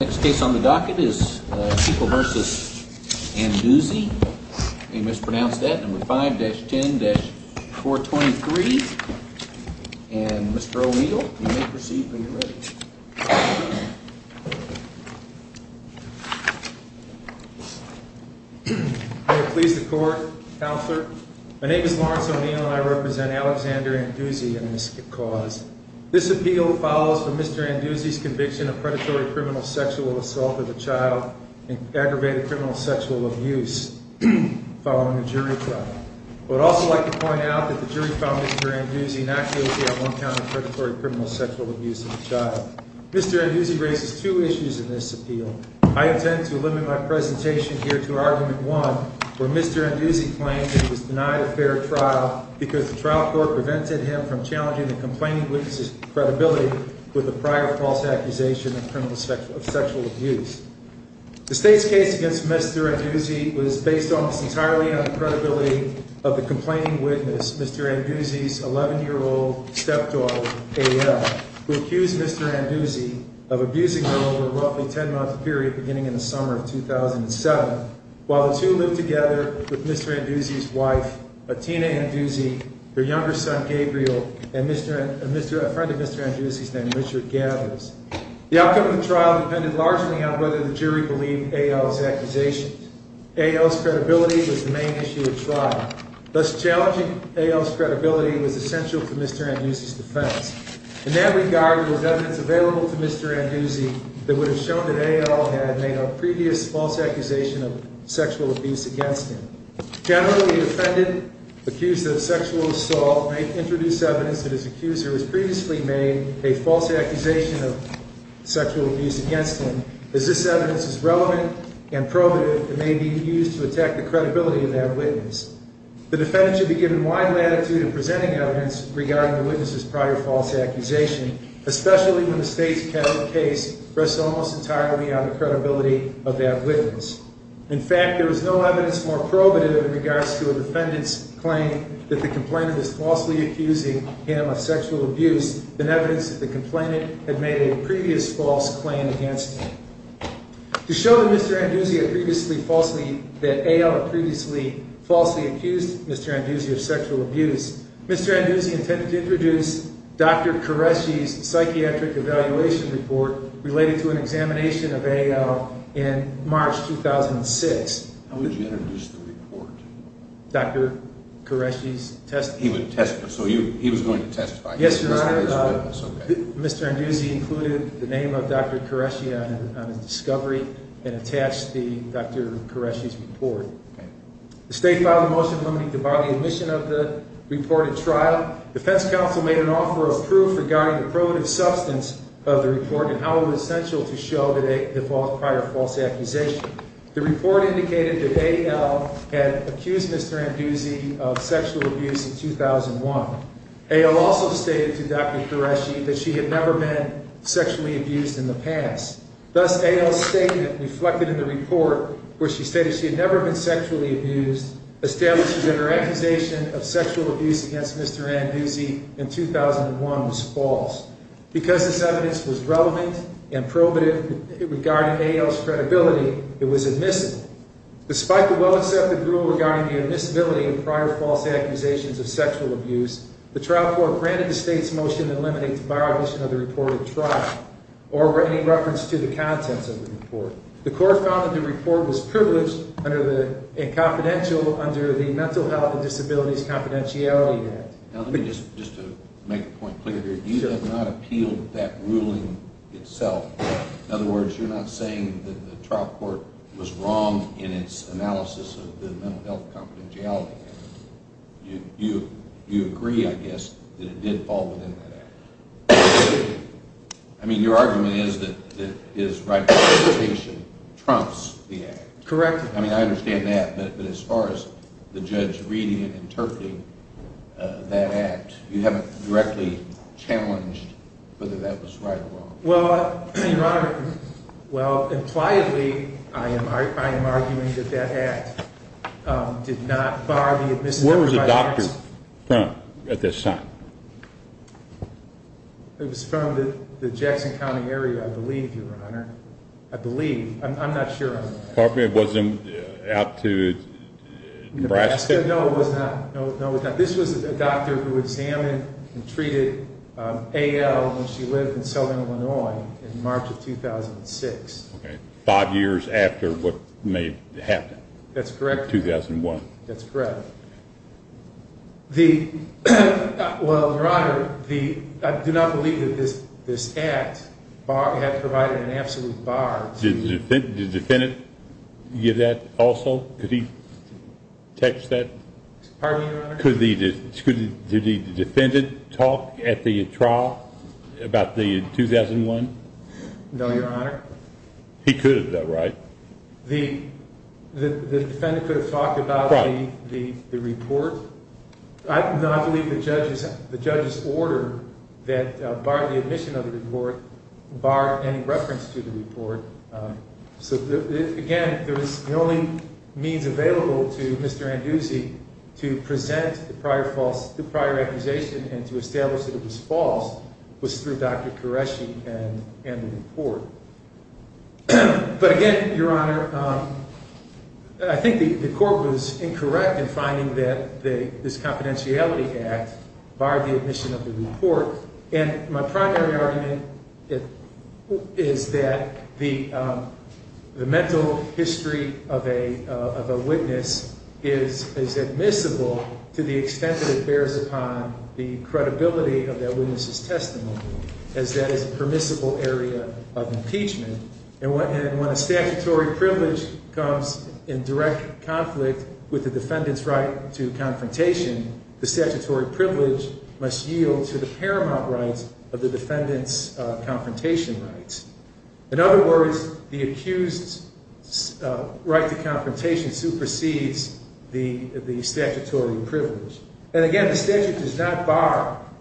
Next case on the docket is Keiko v. Anduze, you mispronounced that, number 5-10-423, and Mr. O'Neill, you may proceed when you're ready. May it please the Court, Counselor, my name is Lawrence O'Neill and I represent Alexander Anduze in this cause. This appeal follows for Mr. Anduze's conviction of predatory criminal sexual assault of a child and aggravated criminal sexual abuse following a jury trial. I would also like to point out that the jury found Mr. Anduze inactively on one count of predatory criminal sexual abuse of a child. Mr. Anduze raises two issues in this appeal. I intend to limit my presentation here to argument one, where Mr. Anduze claims that he was denied a fair trial because the trial court prevented him from challenging the complaining witness's credibility with a prior false accusation of criminal sexual abuse. The State's case against Mr. Anduze was based almost entirely on the credibility of the complaining witness, Mr. Anduze's 11-year-old stepdaughter, A.L., who accused Mr. Anduze of abusing her over a roughly 10-month period beginning in the summer of 2007, while the two lived together with Mr. Anduze's wife, Atina Anduze, their younger son, Gabriel, and a friend of Mr. Anduze's named Richard Gathers. The outcome of the trial depended largely on whether the jury believed A.L.'s accusations. A.L.'s credibility was the main issue at trial. Thus, challenging A.L.'s credibility was essential to Mr. Anduze's defense. In that regard, there was evidence available to Mr. Anduze that would have shown that A.L. had made a previous false accusation of sexual abuse against him. Generally, a defendant accused of sexual assault may introduce evidence that his accuser has previously made a false accusation of sexual abuse against him, as this evidence is relevant and probative and may be used to attack the credibility of that witness. The defendant should be given wide latitude in presenting evidence regarding the witness's prior false accusation, especially when the State's case rests almost entirely on the credibility of that witness. In fact, there is no evidence more probative in regards to a defendant's claim that the complainant is falsely accusing him of sexual abuse than evidence that the complainant had made a previous false claim against him. To show that A.L. had previously falsely accused Mr. Anduze of sexual abuse, Mr. Anduze intended to introduce Dr. Qureshi's psychiatric evaluation report related to an examination of A.L. in March 2006. How would you introduce the report? Dr. Qureshi's testimony. So he was going to testify? Yes, Your Honor. Mr. Anduze included the name of Dr. Qureshi on his discovery and attached Dr. Qureshi's report. The State filed a motion limiting the body admission of the reported trial. Defense counsel made an offer of proof regarding the probative substance of the report and how it was essential to show the prior false accusation. The report indicated that A.L. had accused Mr. Anduze of sexual abuse in 2001. A.L. also stated to Dr. Qureshi that she had never been sexually abused in the past. Thus, A.L.'s statement reflected in the report where she stated she had never been sexually abused established that her accusation of sexual abuse against Mr. Anduze in 2001 was false. Because this evidence was relevant and probative regarding A.L.'s credibility, it was admissible. Despite the well-accepted rule regarding the admissibility of prior false accusations of sexual abuse, the trial court granted the State's motion to eliminate the body admission of the reported trial or any reference to the contents of the report. The court found that the report was privileged and confidential under the Mental Health and Disabilities Confidentiality Act. Now let me just make a point clear here. You have not appealed that ruling itself. In other words, you're not saying that the trial court was wrong in its analysis of the Mental Health Confidentiality Act. You agree, I guess, that it did fall within that act. I mean, your argument is that his rightful participation trumps the act. Correct. I mean, I understand that, but as far as the judge reading and interpreting that act, you haven't directly challenged whether that was right or wrong. Well, Your Honor, well, impliedly, I am arguing that that act did not bar the admissibility of my rights. Where was the doctor from at this time? It was from the Jackson County area, I believe, Your Honor. I believe. I'm not sure. Pardon me, it wasn't out to Nebraska? No, it was not. This was a doctor who examined and treated A.L. when she lived in Southern Illinois in March of 2006. Okay, five years after what may have happened. That's correct. In 2001. That's correct. Well, Your Honor, I do not believe that this act had provided an absolute bar to… Did the defendant give that also? Could he text that? Pardon me, Your Honor? Could the defendant talk at the trial about the 2001? No, Your Honor. He could have, though, right? The defendant could have talked about the report? No, I believe the judge's order that barred the admission of the report barred any reference to the report. So, again, the only means available to Mr. Anduzzi to present the prior accusation and to establish that it was false was through Dr. Koreshi and the report. But, again, Your Honor, I think the court was incorrect in finding that this confidentiality act barred the admission of the report. And my primary argument is that the mental history of a witness is admissible to the extent that it bears upon the credibility of that witness's testimony, as that is a permissible area of impeachment. And when a statutory privilege comes in direct conflict with the defendant's right to confrontation, the statutory privilege must yield to the paramount rights of the defendant's confrontation rights. In other words, the accused's right to confrontation supersedes the statutory privilege. And, again, the statute does not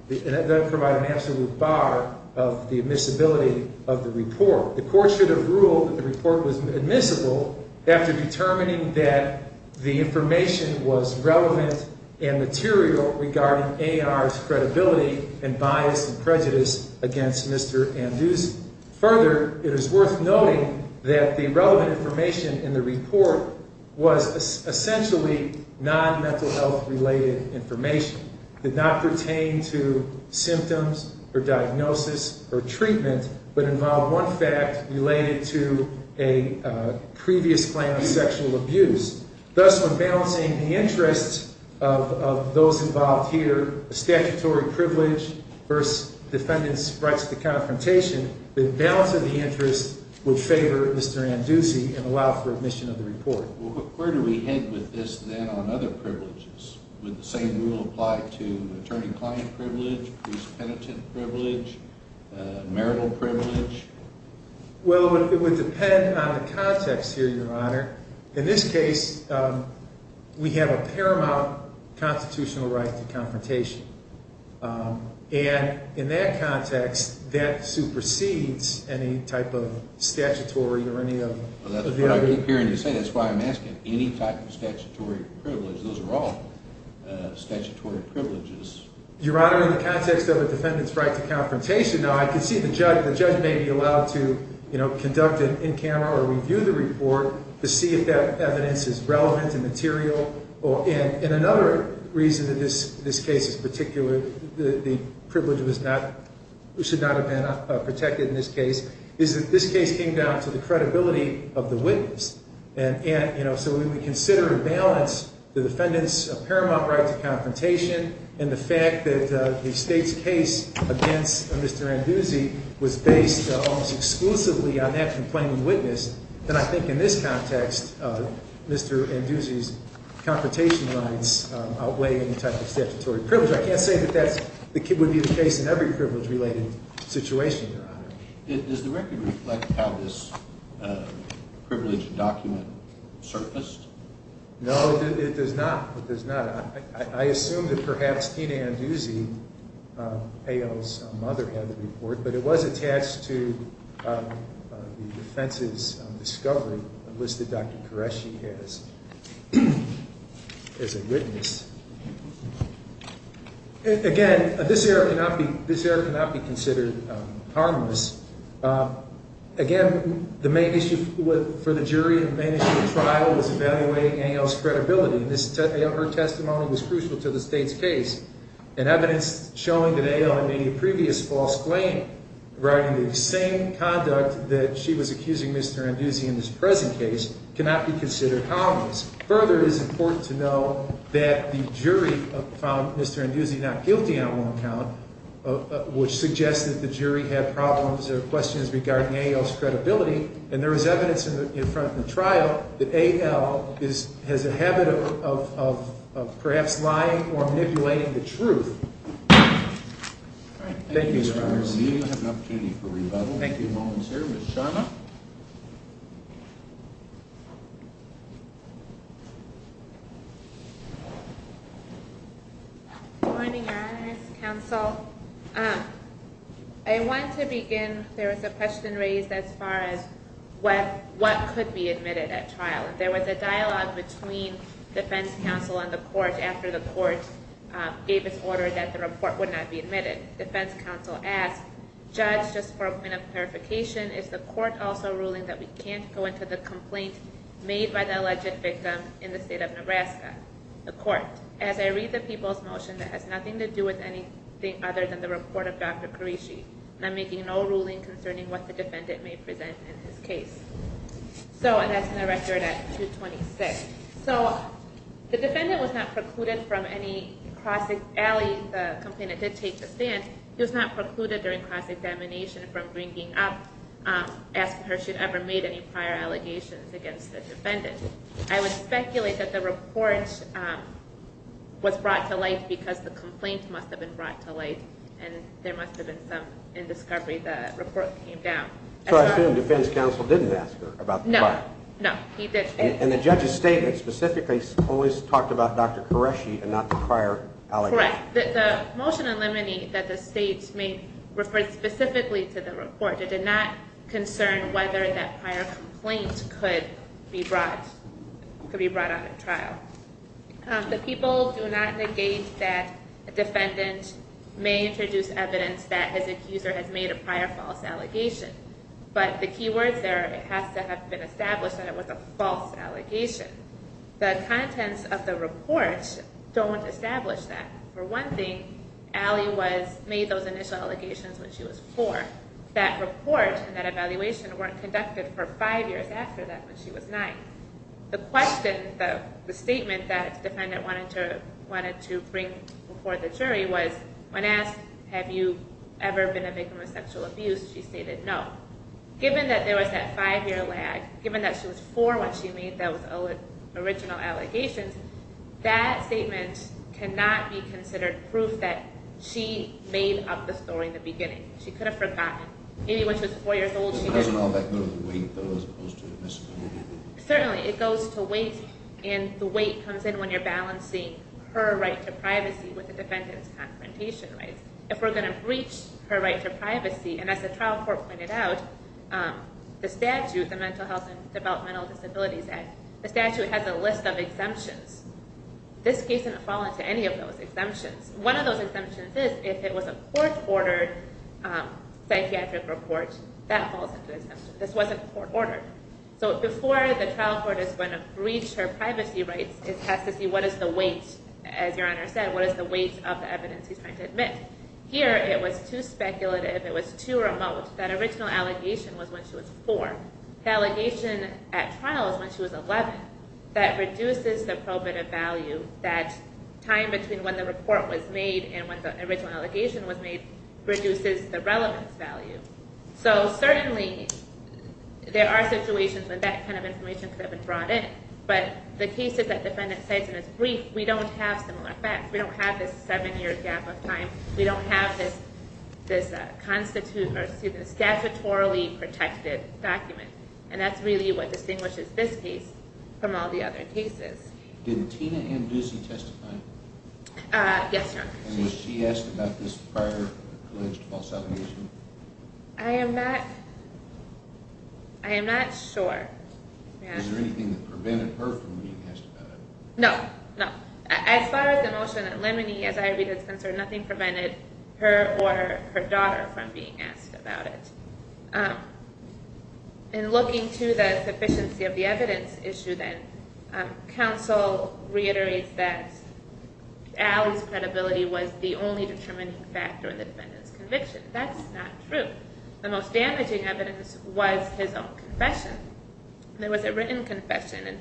provide an absolute bar of the admissibility of the report. The court should have ruled that the report was admissible after determining that the information was relevant and material regarding A.R.'s credibility and bias and prejudice against Mr. Anduzzi. Further, it is worth noting that the relevant information in the report was essentially non-mental health related information. It did not pertain to symptoms or diagnosis or treatment, but involved one fact related to a previous claim of sexual abuse. Thus, when balancing the interests of those involved here, statutory privilege versus defendant's rights to confrontation, the balance of the interests would favor Mr. Anduzzi and allow for admission of the report. Where do we head with this, then, on other privileges? Would the same rule apply to attorney-client privilege, priest-penitent privilege, marital privilege? Well, it would depend on the context here, Your Honor. In this case, we have a paramount constitutional right to confrontation. And in that context, that supersedes any type of statutory or any of the other… Well, that's what I keep hearing you say. That's why I'm asking. Any type of statutory privilege, those are all statutory privileges. Your Honor, in the context of a defendant's right to confrontation, now, I can see the judge may be allowed to conduct an in-camera or review the report to see if that evidence is relevant and material. And another reason that this case is particular, the privilege should not have been protected in this case, is that this case came down to the credibility of the witness. And so we would consider and balance the defendant's paramount right to confrontation and the fact that the State's case against Mr. Anduzzi was based almost exclusively on that complaining witness. And I think in this context, Mr. Anduzzi's confrontation rights outweigh any type of statutory privilege. I can't say that that would be the case in every privilege-related situation, Your Honor. Does the record reflect how this privilege document surfaced? No, it does not. It does not. I assume that perhaps Tina Anduzzi, Payol's mother, had the report, but it was attached to the defense's discovery, a list that Dr. Qureshi has as a witness. Again, this error cannot be considered harmless. Again, the main issue for the jury in the trial was evaluating A.L.'s credibility, and her testimony was crucial to the State's case. And evidence showing that A.L. had made a previous false claim regarding the same conduct that she was accusing Mr. Anduzzi in this present case cannot be considered harmless. Further, it is important to know that the jury found Mr. Anduzzi not guilty on one account, which suggests that the jury had problems or questions regarding A.L.'s credibility, and there is evidence in front of the trial that A.L. has a habit of perhaps lying or manipulating the truth. Thank you, Mr. Harris. We have an opportunity for rebuttal. Thank you, Law and Service. Shawna? Good morning, Your Honors. Counsel, I want to begin. There was a question raised as far as what could be admitted at trial. There was a dialogue between defense counsel and the court after the court gave its order that the report would not be admitted. Defense counsel asked, judge, just for a point of clarification, is the court also ruling that we can't go into the complaint made by the alleged victim in the state of Nebraska? The court, as I read the people's motion, that has nothing to do with anything other than the report of Dr. Karishi. And I'm making no ruling concerning what the defendant may present in his case. So, and that's in the record at 226. So, the defendant was not precluded from any cross-examination. The complainant did take the stand. He was not precluded during cross-examination from bringing up, asking her if she had ever made any prior allegations against the defendant. I would speculate that the report was brought to light because the complaint must have been brought to light, and there must have been some indiscovery. The report came down. So I assume defense counsel didn't ask her about the complaint? No, no, he didn't. And the judge's statement specifically always talked about Dr. Karishi and not the prior allegations. Correct. The motion in limine that the state made referred specifically to the report. It did not concern whether that prior complaint could be brought, could be brought on to trial. The people do not negate that a defendant may introduce evidence that his accuser has made a prior false allegation. But the key words there, it has to have been established that it was a false allegation. The contents of the report don't establish that. For one thing, Allie made those initial allegations when she was four. That report and that evaluation weren't conducted for five years after that when she was nine. The question, the statement that the defendant wanted to bring before the jury was when asked, have you ever been a victim of sexual abuse, she stated no. Given that there was that five-year lag, given that she was four when she made those original allegations, that statement cannot be considered proof that she made up the story in the beginning. She could have forgotten. It doesn't all back down to the weight, though, as opposed to necessarily the weight. Certainly. It goes to weight, and the weight comes in when you're balancing her right to privacy with the defendant's confrontation rights. If we're going to breach her right to privacy, and as the trial court pointed out, the statute, the Mental Health and Developmental Disabilities Act, the statute has a list of exemptions. This case didn't fall into any of those exemptions. One of those exemptions is if it was a court-ordered psychiatric report, that falls under the exemption. This wasn't court-ordered. So before the trial court is going to breach her privacy rights, it has to see what is the weight, as Your Honor said, what is the weight of the evidence she's trying to admit. Here, it was too speculative, it was too remote. That original allegation was when she was four. The allegation at trial is when she was 11. That reduces the probative value, that time between when the report was made and when the original allegation was made reduces the relevance value. So certainly, there are situations when that kind of information could have been brought in. But the cases that the defendant cites in this brief, we don't have similar facts. We don't have this seven-year gap of time. We don't have this statutory protected document. And that's really what distinguishes this case from all the other cases. Did Tina Ann Ducey testify? Yes, Your Honor. And was she asked about this prior alleged false allegation? I am not sure. Is there anything that prevented her from being asked about it? No. As far as the motion and Lemony, as I read it, is concerned, nothing prevented her or her daughter from being asked about it. In looking to the sufficiency of the evidence issue then, counsel reiterates that Allie's credibility was the only determining factor in the defendant's conviction. That's not true. The most damaging evidence was his own confession. There was a written confession,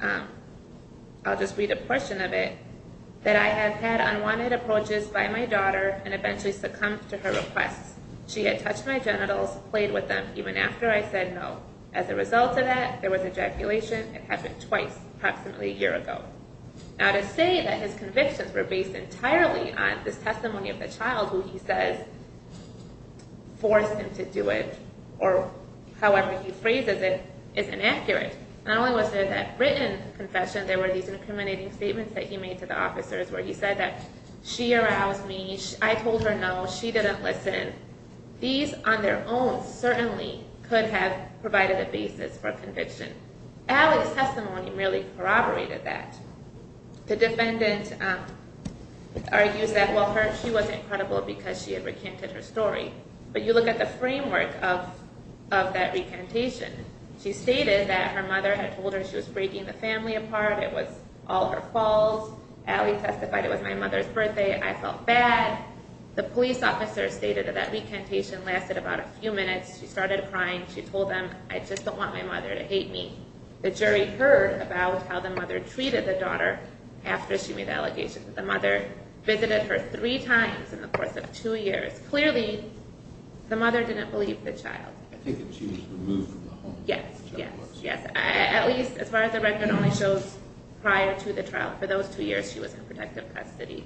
and I'll just read a portion of it, that I have had unwanted approaches by my daughter and eventually succumbed to her requests. She had touched my genitals, played with them, even after I said no. As a result of that, there was ejaculation. It happened twice, approximately a year ago. Now, to say that his convictions were based entirely on this testimony of the child who he says forced him to do it, or however he phrases it, is inaccurate. Not only was there that written confession, there were these incriminating statements that he made to the officers where he said that she aroused me, and I told her no, she didn't listen. These on their own certainly could have provided a basis for conviction. Allie's testimony merely corroborated that. The defendant argues that, well, she was incredible because she had recanted her story. But you look at the framework of that recantation. She stated that her mother had told her she was breaking the family apart, it was all her fault. Allie testified it was my mother's birthday. I felt bad. The police officer stated that that recantation lasted about a few minutes. She started crying. She told them, I just don't want my mother to hate me. The jury heard about how the mother treated the daughter after she made allegations. The mother visited her three times in the course of two years. Clearly, the mother didn't believe the child. I think that she was removed from the home. Yes, yes, yes. At least as far as the record only shows, prior to the trial, for those two years she was in protective custody.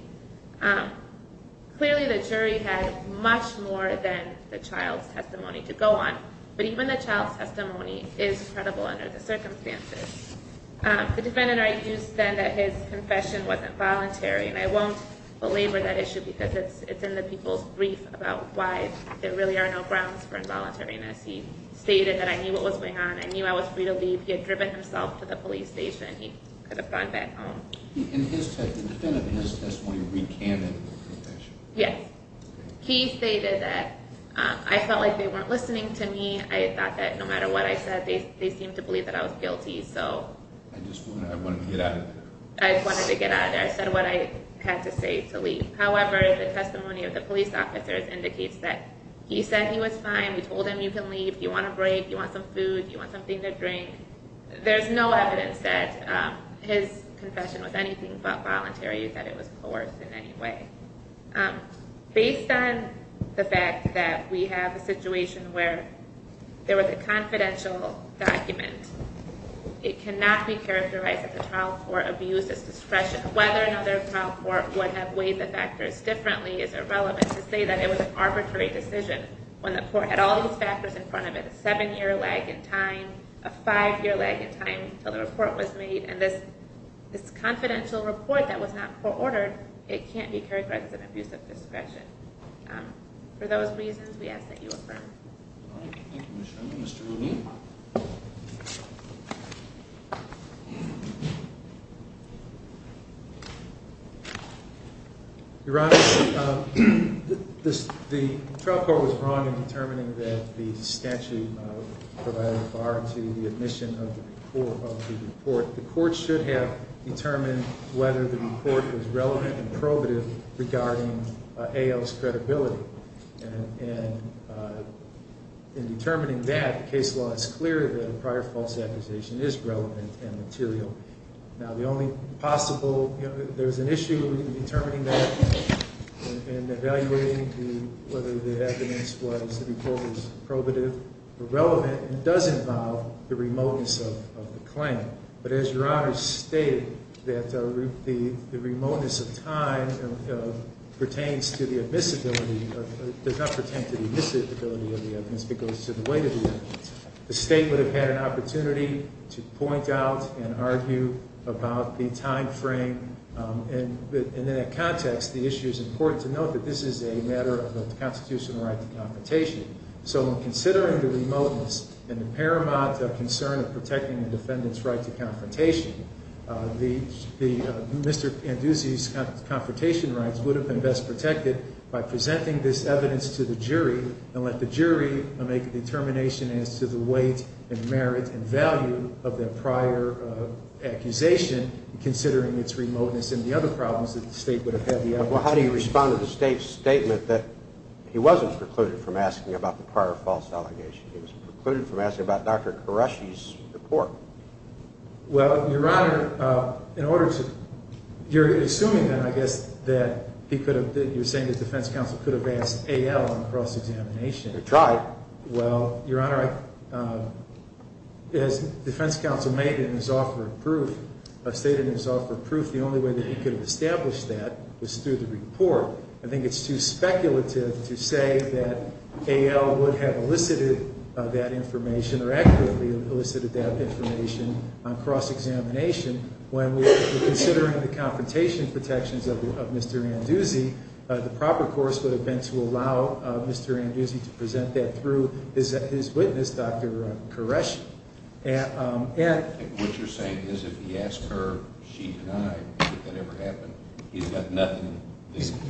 Clearly the jury had much more than the child's testimony to go on. But even the child's testimony is credible under the circumstances. The defendant argues then that his confession wasn't voluntary, and I won't belabor that issue because it's in the people's brief about why there really are no grounds for involuntariness. He stated that I knew what was going on. I knew I was free to leave. He had driven himself to the police station. He could have gone back home. The defendant in his testimony recanted the confession. Yes. He stated that I felt like they weren't listening to me. I thought that no matter what I said, they seemed to believe that I was guilty. I just wanted to get out of there. I wanted to get out of there. I said what I had to say to leave. However, the testimony of the police officers indicates that he said he was fine. We told him you can leave. You want a break? You want some food? You want something to drink? There's no evidence that his confession was anything but voluntary, that it was coerced in any way. Based on the fact that we have a situation where there was a confidential document, it cannot be characterized that the trial court abused its discretion. Whether another trial court would have weighed the factors differently is irrelevant to say that it was an arbitrary decision when the court had all these factors in front of it, a seven-year lag in time, a five-year lag in time until the report was made, and this confidential report that was not court-ordered, it can't be characterized as an abuse of discretion. For those reasons, we ask that you affirm. Thank you, Commissioner. Mr. Levine? Your Honor, the trial court was wrong in determining that the statute provided a bar to the admission of the report. The court should have determined whether the report was relevant and probative regarding A.L.'s credibility. And in determining that, the case law is clear that a prior false accusation is relevant and material. Now, the only possible, you know, there's an issue in determining that and evaluating whether the evidence was, the report was probative or relevant, and it does involve the remoteness of the claim. But as Your Honor stated, that the remoteness of time pertains to the admissibility, does not pertain to the admissibility of the evidence because it goes to the weight of the evidence. The state would have had an opportunity to point out and argue about the time frame. And in that context, the issue is important to note that this is a matter of constitutional right to computation. So in considering the remoteness and the paramount concern of protecting the defendant's right to computation, Mr. Anduzzi's computation rights would have been best protected by presenting this evidence to the jury and let the jury make a determination as to the weight and merit and value of their prior accusation, considering its remoteness and the other problems that the state would have had the opportunity. Well, how do you respond to the state's statement that he wasn't precluded from asking about the prior false allegation? He was precluded from asking about Dr. Qureshi's report? Well, Your Honor, in order to, you're assuming then, I guess, that he could have, you're saying that defense counsel could have asked A.L. on cross-examination. They tried. Well, Your Honor, as defense counsel made in his offer of proof, stated in his offer of proof, the only way that he could have established that was through the report. I think it's too speculative to say that A.L. would have elicited that information or accurately elicited that information on cross-examination. When we're considering the computation protections of Mr. Anduzzi, the proper course would have been to allow Mr. Anduzzi to present that through his witness, Dr. Qureshi. What you're saying is if he asked her, she denied that that ever happened. He's got nothing. He's got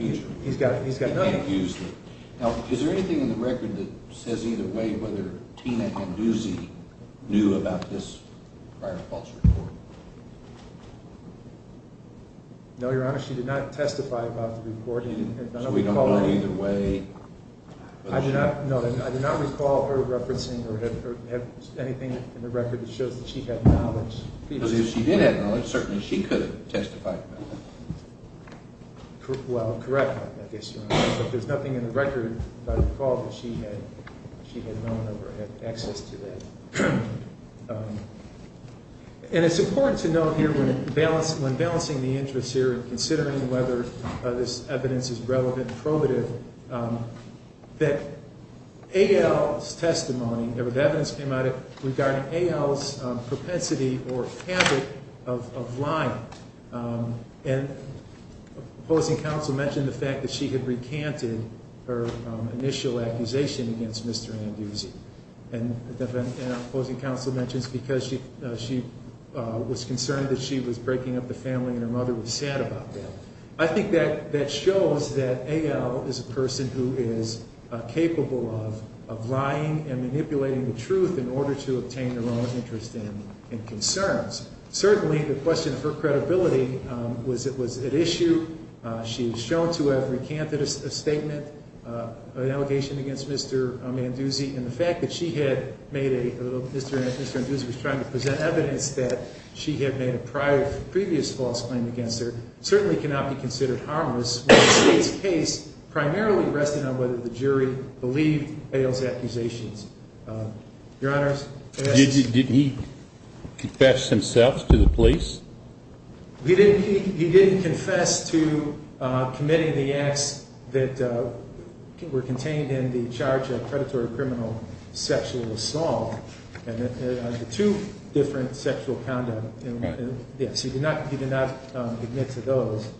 nothing. He can't use it. Now, is there anything in the record that says either way whether Tina Anduzzi knew about this prior false report? No, Your Honor, she did not testify about the report. So we don't know either way? I do not know. I do not recall her referencing or have anything in the record that shows that she had knowledge. Because if she did have knowledge, certainly she could have testified about it. Well, correct, I guess, Your Honor. But there's nothing in the record that I recall that she had known of or had access to that. And it's important to note here when balancing the interests here and considering whether this evidence is relevant and probative, that A.L.'s testimony, the evidence came out regarding A.L.'s propensity or habit of lying. And opposing counsel mentioned the fact that she had recanted her initial accusation against Mr. Anduzzi. And opposing counsel mentions because she was concerned that she was breaking up the family and her mother was sad about that. I think that shows that A.L. is a person who is capable of lying and manipulating the truth in order to obtain their own interest and concerns. Certainly, the question of her credibility was at issue. She was shown to have recanted a statement, an allegation against Mr. Anduzzi. And the fact that she had made a, Mr. Anduzzi was trying to present evidence that she had made a prior, previous false claim against her, certainly cannot be considered harmless when the State's case primarily rested on whether the jury believed A.L.'s accusations. Your Honors? Did he confess himself to the police? He didn't confess to committing the acts that were contained in the charge of predatory criminal sexual assault. And the two different sexual conduct, yes, he did not admit to those.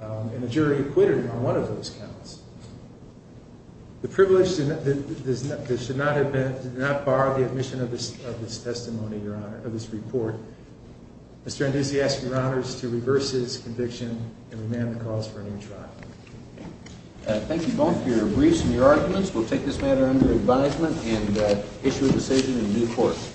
And the jury acquitted him on one of those counts. The privilege that should not have been, did not bar the admission of this testimony, Your Honor, of this report. Mr. Anduzzi asks Your Honors to reverse his conviction and remand the cause for a new trial. Thank you both for your briefs and your arguments. We'll take this matter under advisement and issue a decision in due course.